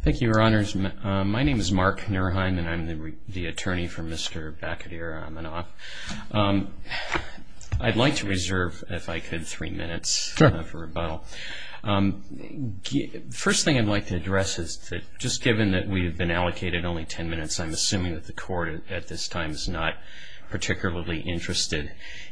Thank you, Your Honors. My name is Mark Nurheim, and I'm the attorney for Mr. Bakhodir Amanov. I'd like to reserve, if I could, three minutes for rebuttal. The first thing I'd like to address is that just given that we have been allocated only ten minutes, I'm assuming that the Court at this time is not particularly interested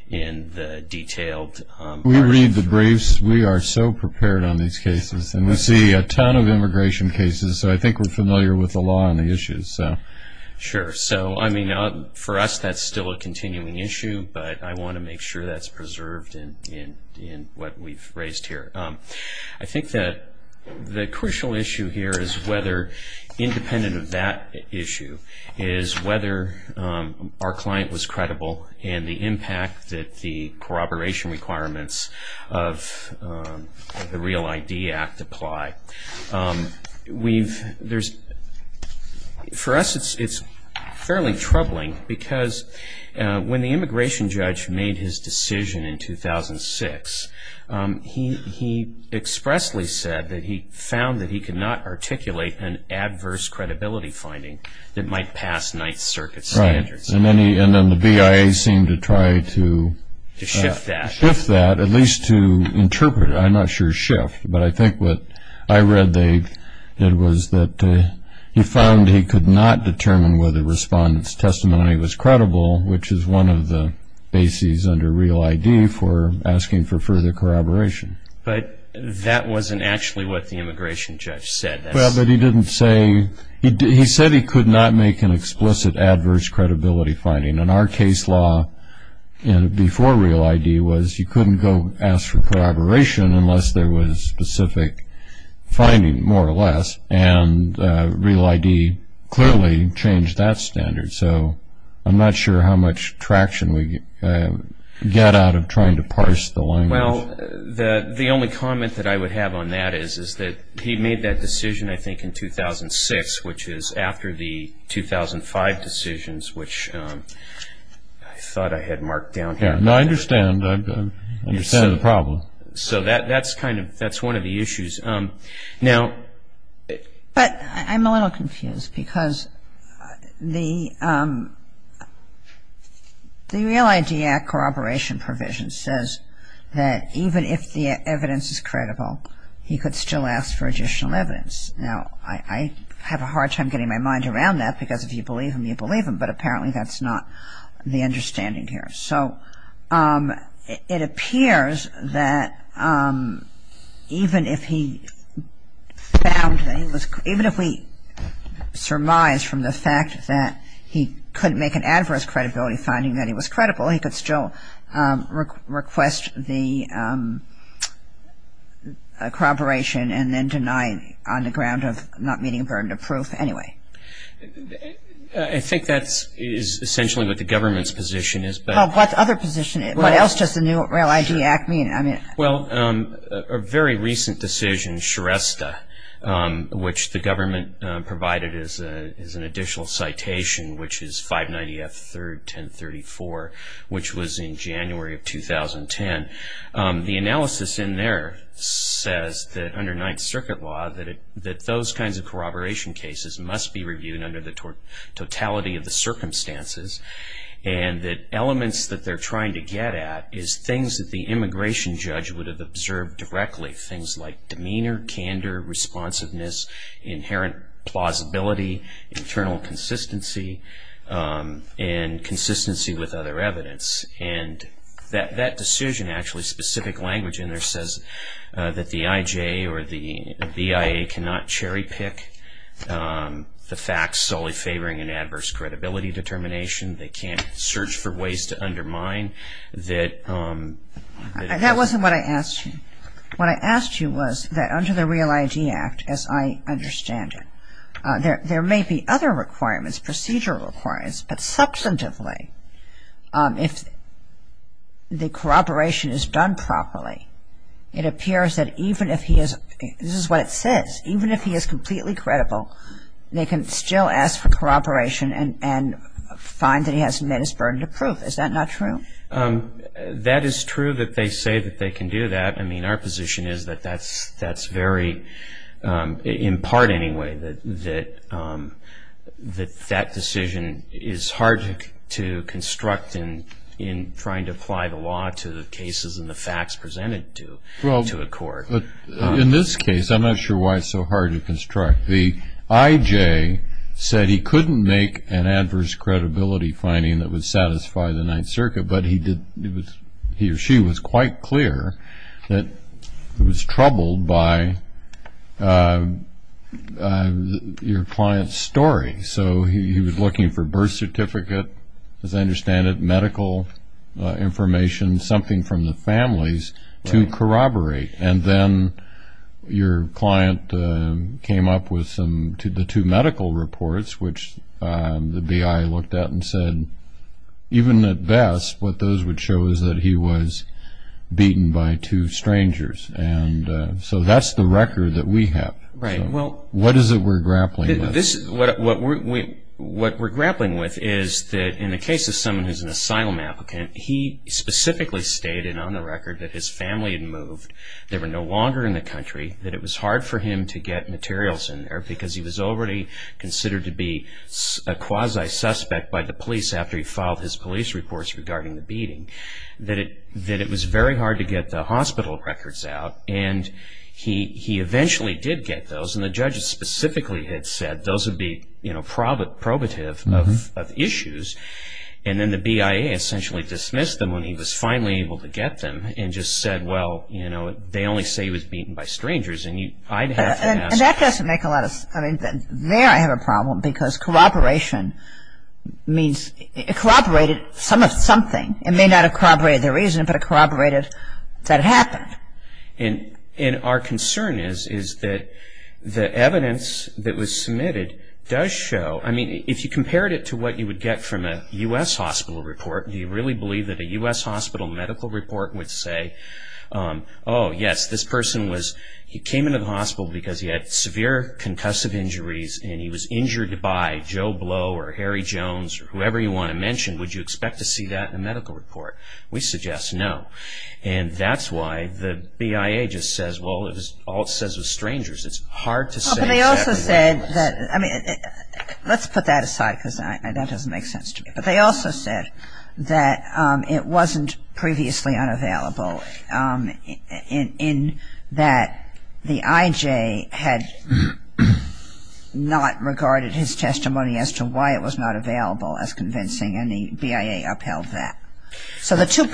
in the detailed briefs. Because we are so prepared on these cases, and we see a ton of immigration cases, so I think we're familiar with the law and the issues. Sure. So, I mean, for us that's still a continuing issue, but I want to make sure that's preserved in what we've raised here. I think that the crucial issue here is whether, independent of that issue, our client was credible and the impact that the corroboration requirements of the Real ID Act apply. For us it's fairly troubling, because when the immigration judge made his decision in 2006, he expressly said that he found that he could not articulate an adverse credibility finding that might pass Ninth Circuit standards. And then the BIA seemed to try to shift that, at least to interpret it. I'm not sure shift, but I think what I read they did was that he found he could not determine whether the respondent's testimony was credible, which is one of the bases under Real ID for asking for further corroboration. But that wasn't actually what the immigration judge said. Well, but he didn't say, he said he could not make an explicit adverse credibility finding. And our case law before Real ID was you couldn't go ask for corroboration unless there was specific finding, more or less. And Real ID clearly changed that standard. So I'm not sure how much traction we get out of trying to parse the language. Well, the only comment that I would have on that is that he made that decision, I think, in 2006, which is after the 2005 decisions, which I thought I had marked down here. Yeah. No, I understand. I understand the problem. So that's kind of, that's one of the issues. But I'm a little confused because the Real ID act corroboration provision says that even if the evidence is credible, he could still ask for additional evidence. Now, I have a hard time getting my mind around that because if you believe him, you believe him. But apparently that's not the understanding here. So it appears that even if he found that he was, even if he surmised from the fact that he couldn't make an adverse credibility finding that he was credible, he could still request the corroboration and then deny on the ground of not meeting a burden of proof anyway. I think that's essentially what the government's position is. What other position? What else does the new Real ID act mean? Well, a very recent decision, Shrestha, which the government provided as an additional citation, which is 590 F 3rd 1034, which was in January of 2010. The analysis in there says that under Ninth Circuit law, that those kinds of corroboration cases must be reviewed under the totality of the circumstances and that elements that they're trying to get at is things that the immigration judge would have observed directly. Things like demeanor, candor, responsiveness, inherent plausibility, internal consistency, and consistency with other evidence. That decision actually, specific language in there says that the IJ or the BIA cannot cherry pick the facts solely favoring an adverse credibility determination. They can't search for ways to undermine that. That wasn't what I asked you. What I asked you was that under the Real ID Act, as I understand it, there may be other requirements, procedural requirements, but substantively, if the corroboration is done properly, it appears that even if he is, this is what it says, even if he is completely credible, they can still ask for corroboration and find that he hasn't met his burden of proof. Is that not true? That is true that they say that they can do that. I mean, our position is that that's very, in part anyway, that that decision is hard to construct in trying to apply the law to the cases and the facts presented to a court. Well, in this case, I'm not sure why it's so hard to construct. The IJ said he couldn't make an adverse credibility finding that would satisfy the Ninth Circuit, but he or she was quite clear that he was troubled by your client's story. So he was looking for birth certificate, as I understand it, medical information, something from the families to corroborate. And then your client came up with the two medical reports, which the BI looked at and said even at best what those would show is that he was beaten by two strangers. And so that's the record that we have. What is it we're grappling with? What we're grappling with is that in the case of someone who's an asylum applicant, he specifically stated on the record that his family had moved, they were no longer in the country, that it was hard for him to get materials in there because he was already considered to be a quasi-suspect by the police after he filed his police reports regarding the beating, that it was very hard to get the hospital records out. And he eventually did get those. And the judges specifically had said those would be probative of issues. And then the BIA essentially dismissed him when he was finally able to get them and just said, well, you know, they only say he was beaten by strangers. And that doesn't make a lot of sense. There I have a problem because corroboration means it corroborated something. It may not have corroborated the reason, but it corroborated that it happened. And our concern is that the evidence that was submitted does show, I mean if you compared it to what you would get from a U.S. hospital report, do you really believe that a U.S. hospital medical report would say, oh, yes, this person was, he came into the hospital because he had severe concussive injuries and he was injured by Joe Blow or Harry Jones or whoever you want to mention. Would you expect to see that in a medical report? We suggest no. And that's why the BIA just says, well, all it says is strangers. It's hard to say exactly what it says. Well, but they also said that, I mean, let's put that aside because that doesn't make sense to me. But they also said that it wasn't previously unavailable in that the IJ had not regarded his testimony as to why it was not available as convincing and the BIA upheld that. So the two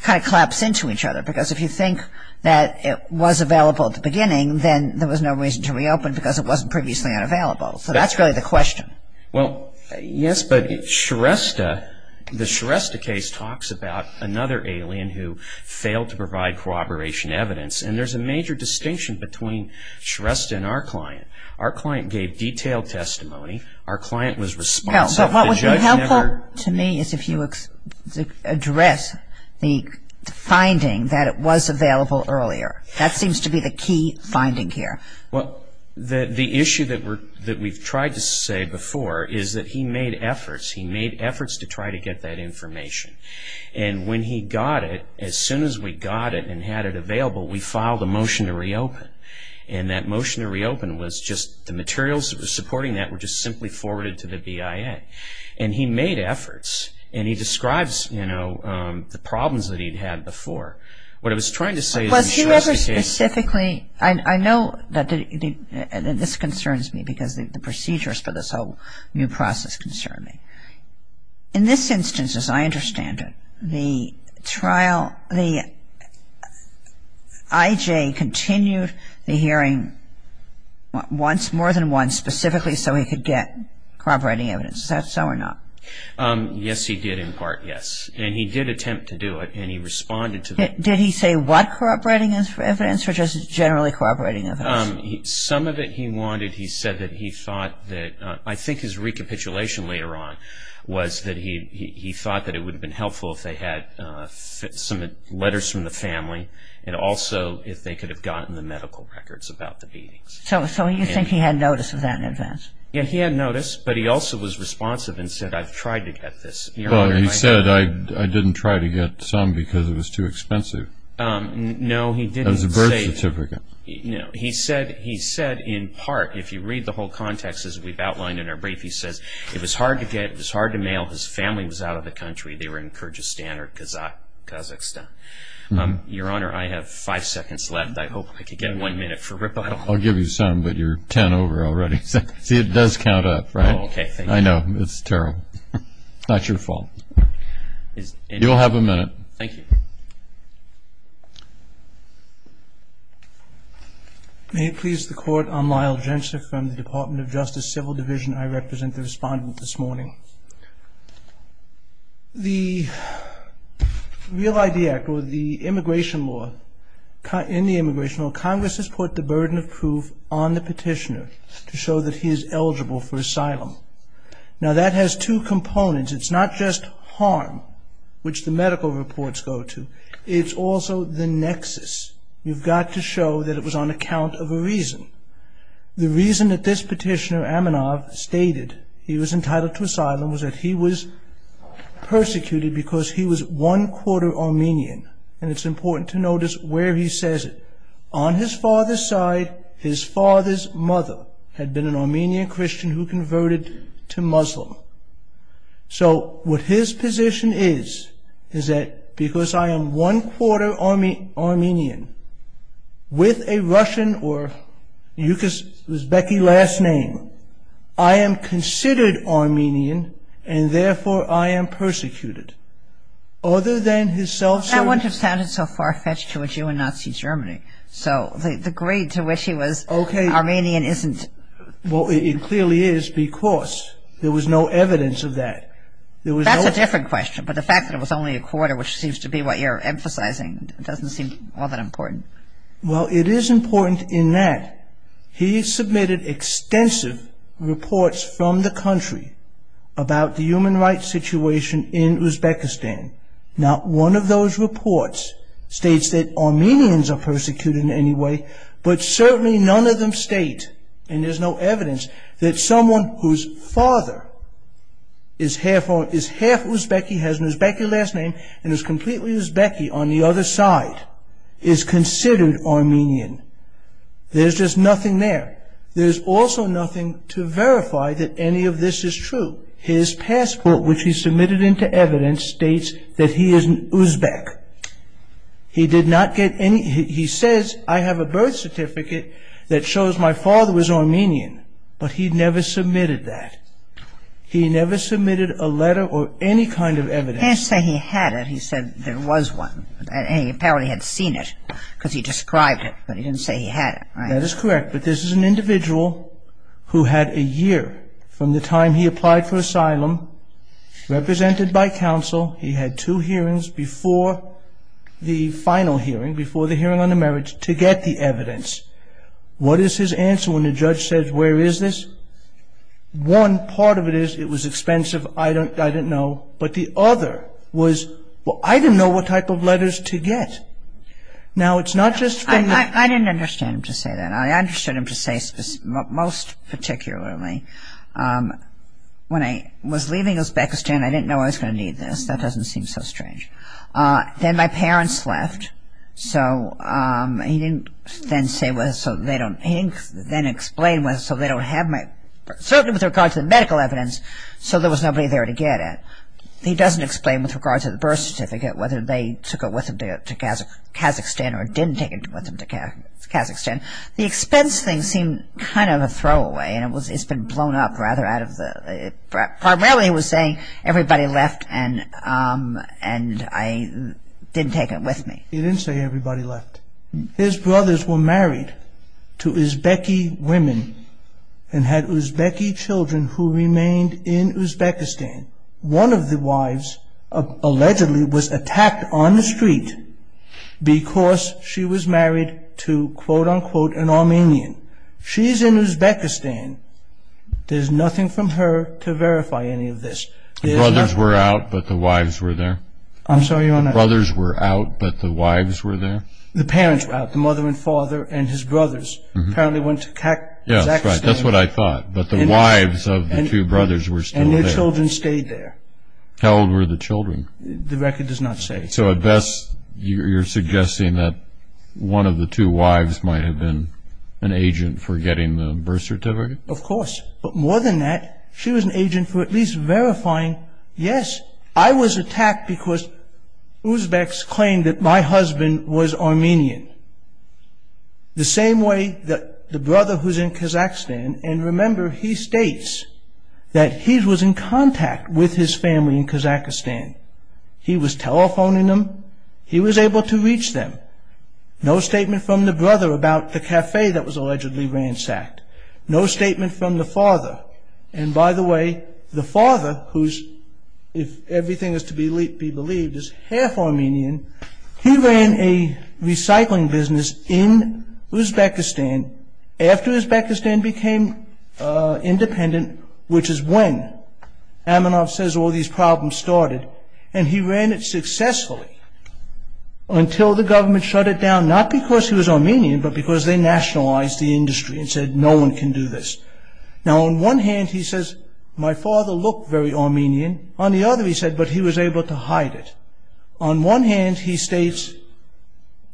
kind of collapse into each other because if you think that it was available at the beginning, then there was no reason to reopen because it wasn't previously unavailable. So that's really the question. Well, yes, but Shrestha, the Shrestha case talks about another alien who failed to provide corroboration evidence. And there's a major distinction between Shrestha and our client. Our client gave detailed testimony. Our client was responsible. But what would be helpful to me is if you address the finding that it was available earlier. That seems to be the key finding here. Well, the issue that we've tried to say before is that he made efforts. He made efforts to try to get that information. And when he got it, as soon as we got it and had it available, we filed a motion to reopen. And that motion to reopen was just the materials that were supporting that were just simply forwarded to the BIA. And he made efforts. And he describes, you know, the problems that he'd had before. What I was trying to say is in Shrestha's case. I know that this concerns me because the procedures for this whole new process concern me. In this instance, as I understand it, the trial, the IJ continued the hearing once, more than once, specifically so he could get corroborating evidence. Is that so or not? Yes, he did in part, yes. And he did attempt to do it. And he responded to the Did he say what corroborating evidence or just generally corroborating evidence? Some of it he wanted. He said that he thought that I think his recapitulation later on was that he thought that it would have been helpful if they had some letters from the family and also if they could have gotten the medical records about the beatings. So you think he had notice of that in advance? Yes, he had notice. But he also was responsive and said, I've tried to get this. He said, I didn't try to get some because it was too expensive. No, he didn't say It was a birth certificate. No, he said in part, if you read the whole context as we've outlined in our brief, he says, it was hard to get, it was hard to mail, his family was out of the country. They were in Kyrgyzstan or Kazakhstan. Your Honor, I have five seconds left. I hope I can get one minute for rebuttal. I'll give you some, but you're ten over already. See, it does count up, right? Okay, thank you. I know, it's terrible. It's not your fault. You'll have a minute. Thank you. May it please the Court, I'm Lyle Jensen from the Department of Justice Civil Division. I represent the respondent this morning. The Real ID Act or the immigration law, in the immigration law, Congress has put the burden of proof on the petitioner to show that he is eligible for asylum. Now, that has two components. It's not just harm, which the medical reports go to. It's also the nexus. You've got to show that it was on account of a reason. The reason that this petitioner, Aminov, stated he was entitled to asylum was that he was persecuted because he was one-quarter Armenian. And it's important to notice where he says it. On his father's side, his father's mother had been an Armenian Christian who converted to Muslim. So, what his position is, is that because I am one-quarter Armenian, with a Russian or Yugoslavian last name, I am considered Armenian, and therefore I am persecuted. Other than his self-service... No, the grade to which he was Armenian isn't... Well, it clearly is because there was no evidence of that. That's a different question, but the fact that it was only a quarter, which seems to be what you're emphasizing, doesn't seem all that important. Well, it is important in that he submitted extensive reports from the country about the human rights situation in Uzbekistan. Not one of those reports states that Armenians are persecuted in any way, but certainly none of them state, and there's no evidence, that someone whose father is half Uzbek, has an Uzbek last name, and is completely Uzbek on the other side, is considered Armenian. There's just nothing there. There's also nothing to verify that any of this is true. His passport, which he submitted into evidence, states that he is an Uzbek. He did not get any... He says, I have a birth certificate that shows my father was Armenian, but he never submitted that. He never submitted a letter or any kind of evidence. He didn't say he had it. He said there was one, and he apparently had seen it, because he described it, but he didn't say he had it. That is correct, but this is an individual who had a year from the time he applied for asylum, represented by counsel. He had two hearings before the final hearing, before the hearing on the marriage, to get the evidence. What is his answer when the judge says, where is this? One part of it is, it was expensive, I didn't know, but the other was, well, I didn't know what type of letters to get. Now, it's not just from the... I didn't understand him to say that. I understood him to say, most particularly, when I was leaving Uzbekistan, I didn't know I was going to need this. That doesn't seem so strange. Then my parents left, so he didn't then say whether... He didn't then explain whether, so they don't have my... Certainly with regard to the medical evidence, so there was nobody there to get it. He doesn't explain with regard to the birth certificate, or didn't take it with them to Kazakhstan. The expense thing seemed kind of a throwaway, and it's been blown up rather out of the... Primarily he was saying, everybody left and I didn't take it with me. He didn't say everybody left. His brothers were married to Uzbeki women and had Uzbeki children who remained in Uzbekistan. One of the wives allegedly was attacked on the street because she was married to, quote-unquote, an Armenian. She's in Uzbekistan. There's nothing from her to verify any of this. The brothers were out, but the wives were there? I'm sorry, Your Honor. The brothers were out, but the wives were there? The parents were out. The mother and father and his brothers apparently went to Kazakhstan. That's what I thought, but the wives of the two brothers were still there. And their children stayed there. How old were the children? The record does not say. So at best you're suggesting that one of the two wives might have been an agent for getting the birth certificate? Of course. But more than that, she was an agent for at least verifying, yes, I was attacked because Uzbeks claimed that my husband was Armenian. The same way that the brother who's in Kazakhstan, and remember he states that he was in contact with his family in Kazakhstan. He was telephoning them. He was able to reach them. No statement from the brother about the cafe that was allegedly ransacked. No statement from the father. And by the way, the father, who's, if everything is to be believed, is half Armenian. He ran a recycling business in Uzbekistan after Uzbekistan became independent, which is when Aminov says all these problems started. And he ran it successfully until the government shut it down, not because he was Armenian, but because they nationalized the industry and said no one can do this. Now on one hand he says, my father looked very Armenian. On the other he said, but he was able to hide it. On one hand he states,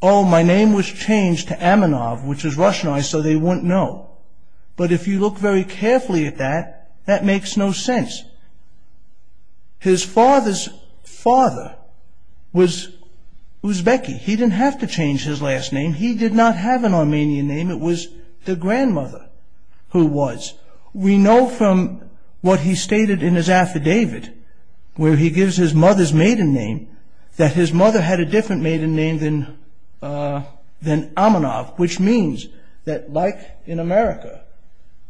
oh, my name was changed to Aminov, which is Russianized, so they wouldn't know. But if you look very carefully at that, that makes no sense. His father's father was Uzbeki. He didn't have to change his last name. He did not have an Armenian name. It was the grandmother who was. We know from what he stated in his affidavit, where he gives his mother's maiden name, that his mother had a different maiden name than Aminov, which means that, like in America,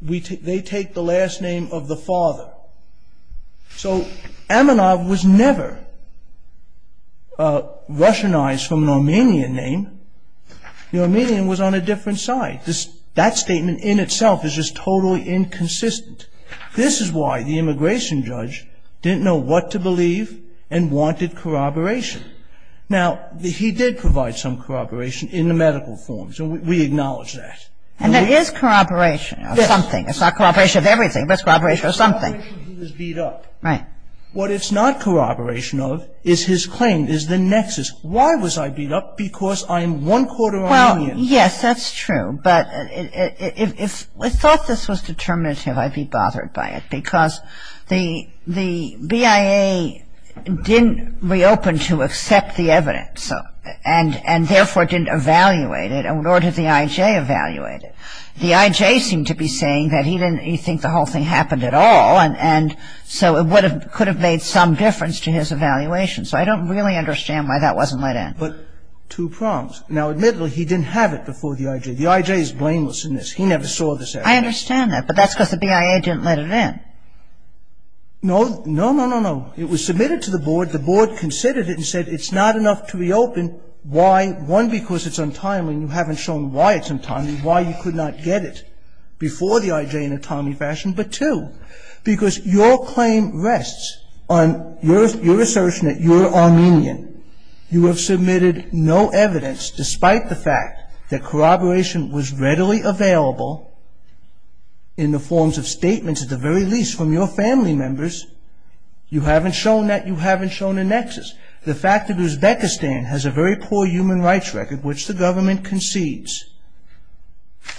they take the last name of the father. So Aminov was never Russianized from an Armenian name. The Armenian was on a different side. That statement in itself is just totally inconsistent. This is why the immigration judge didn't know what to believe and wanted corroboration. Now, he did provide some corroboration in the medical forms, and we acknowledge that. And that is corroboration of something. It's not corroboration of everything, but it's corroboration of something. It's corroboration that he was beat up. Right. What it's not corroboration of is his claim, is the nexus. Why was I beat up? Because I am one-quarter Armenian. Well, yes, that's true. But if I thought this was determinative, I'd be bothered by it, because the BIA didn't reopen to accept the evidence and therefore didn't evaluate it, nor did the I.J. evaluate it. The I.J. seemed to be saying that he didn't think the whole thing happened at all, and so it could have made some difference to his evaluation. So I don't really understand why that wasn't let in. But two prongs. Now, admittedly, he didn't have it before the I.J. The I.J. is blameless in this. He never saw this evidence. I understand that, but that's because the BIA didn't let it in. No, no, no, no, no. It was submitted to the Board. The Board considered it and said it's not enough to reopen. Why? One, because it's untimely and you haven't shown why it's untimely, why you could not get it before the I.J. in a timely fashion. But two, because your claim rests on your assertion that you're Armenian. You have submitted no evidence, despite the fact that corroboration was readily available in the forms of statements, at the very least, from your family members. You haven't shown that. You haven't shown a nexus. The fact that Uzbekistan has a very poor human rights record, which the government concedes,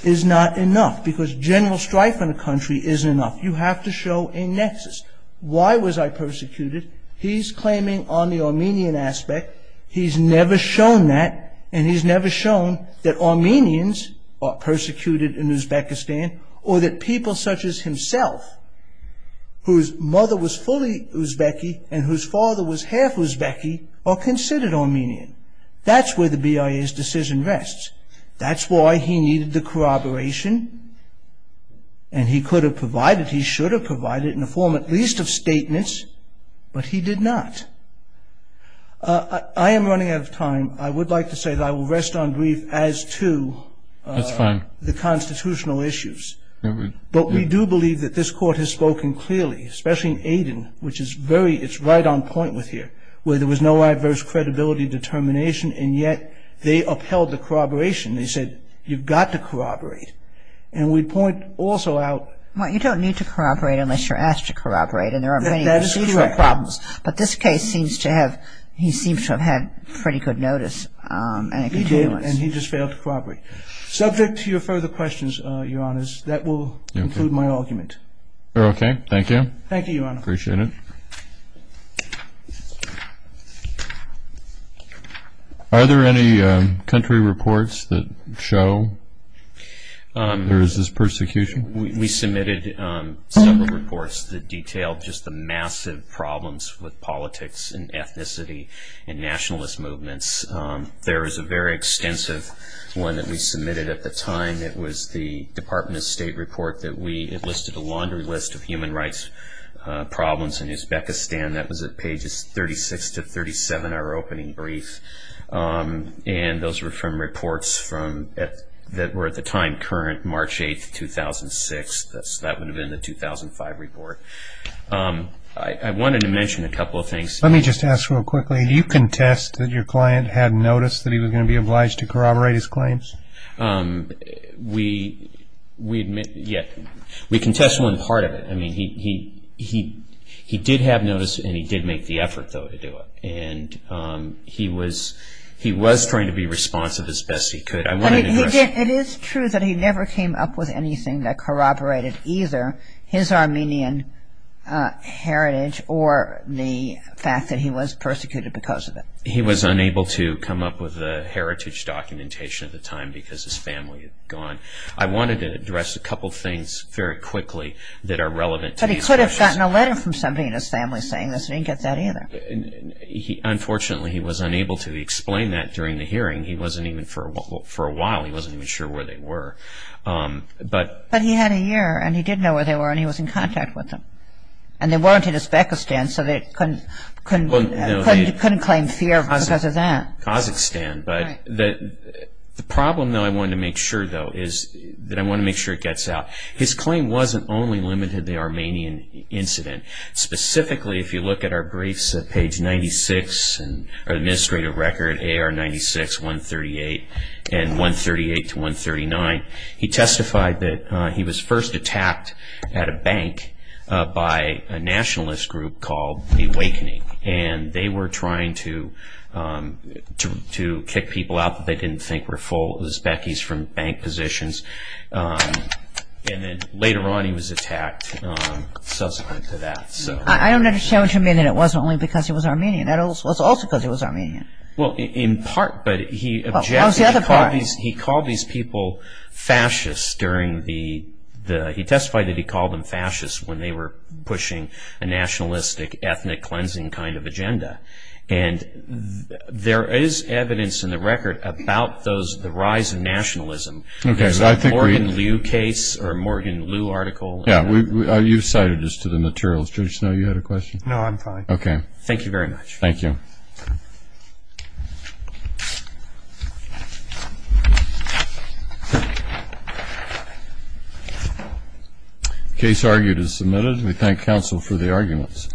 is not enough, because general strife in a country isn't enough. You have to show a nexus. Why was I persecuted? He's claiming on the Armenian aspect. He's never shown that, and he's never shown that Armenians are persecuted in Uzbekistan, or that people such as himself, whose mother was fully Uzbeki and whose father was half Uzbeki, are considered Armenian. That's where the BIA's decision rests. That's why he needed the corroboration, and he could have provided, he should have provided, in the form at least of statements, but he did not. I am running out of time. I would like to say that I will rest on grief as to the constitutional issues. But we do believe that this Court has spoken clearly, especially in Aden, which is very, it's right on point with here, where there was no adverse credibility determination, and yet they upheld the corroboration. They said, you've got to corroborate. And we point also out. Well, you don't need to corroborate unless you're asked to corroborate, and there are many procedural problems. But this case seems to have, he seems to have had pretty good notice. He did, and he just failed to corroborate. Subject to your further questions, Your Honors, that will conclude my argument. Okay. Thank you. Thank you, Your Honor. Appreciate it. Are there any country reports that show there is this persecution? We submitted several reports that detailed just the massive problems with politics and ethnicity and nationalist movements. There is a very extensive one that we submitted at the time. It was the Department of State report that we, it listed a laundry list of human rights problems in Uzbekistan. That was at pages 36 to 37, our opening brief. And those were from reports that were at the time current, March 8, 2006. That would have been the 2005 report. I wanted to mention a couple of things. Let me just ask real quickly, do you contest that your client had notice that he was going to be obliged to corroborate his claims? We admit, yeah, we contest one part of it. I mean, he did have notice, and he did make the effort, though, to do it. And he was trying to be responsive as best he could. It is true that he never came up with anything that corroborated either his Armenian heritage or the fact that he was persecuted because of it. He was unable to come up with a heritage documentation at the time because his family had gone. I wanted to address a couple of things very quickly that are relevant to these questions. He had gotten a letter from somebody in his family saying this. He didn't get that either. Unfortunately, he was unable to explain that during the hearing. For a while, he wasn't even sure where they were. But he had a year, and he did know where they were, and he was in contact with them. And they weren't in Uzbekistan, so they couldn't claim fear because of that. Kazakhstan. The problem, though, I wanted to make sure, though, is that I wanted to make sure it gets out. His claim wasn't only limited to the Armenian incident. Specifically, if you look at our briefs at page 96, or the administrative record, AR 96, 138, and 138-139, he testified that he was first attacked at a bank by a nationalist group called the Awakening. And they were trying to kick people out that they didn't think were full Uzbekis from bank positions. And then later on, he was attacked subsequent to that. I don't understand what you mean that it wasn't only because he was Armenian. It was also because he was Armenian. Well, in part, but he objected. Well, how's the other part? He called these people fascists during the... He testified that he called them fascists when they were pushing a nationalistic, ethnic-cleansing kind of agenda. And there is evidence in the record about the rise of nationalism. Okay, so I think we... There's a Morgan Liu case, or a Morgan Liu article. Yeah, you cited this to the materials. Judge Snow, you had a question? No, I'm fine. Okay. Thank you very much. Thank you. Case argued is submitted. We thank counsel for the arguments.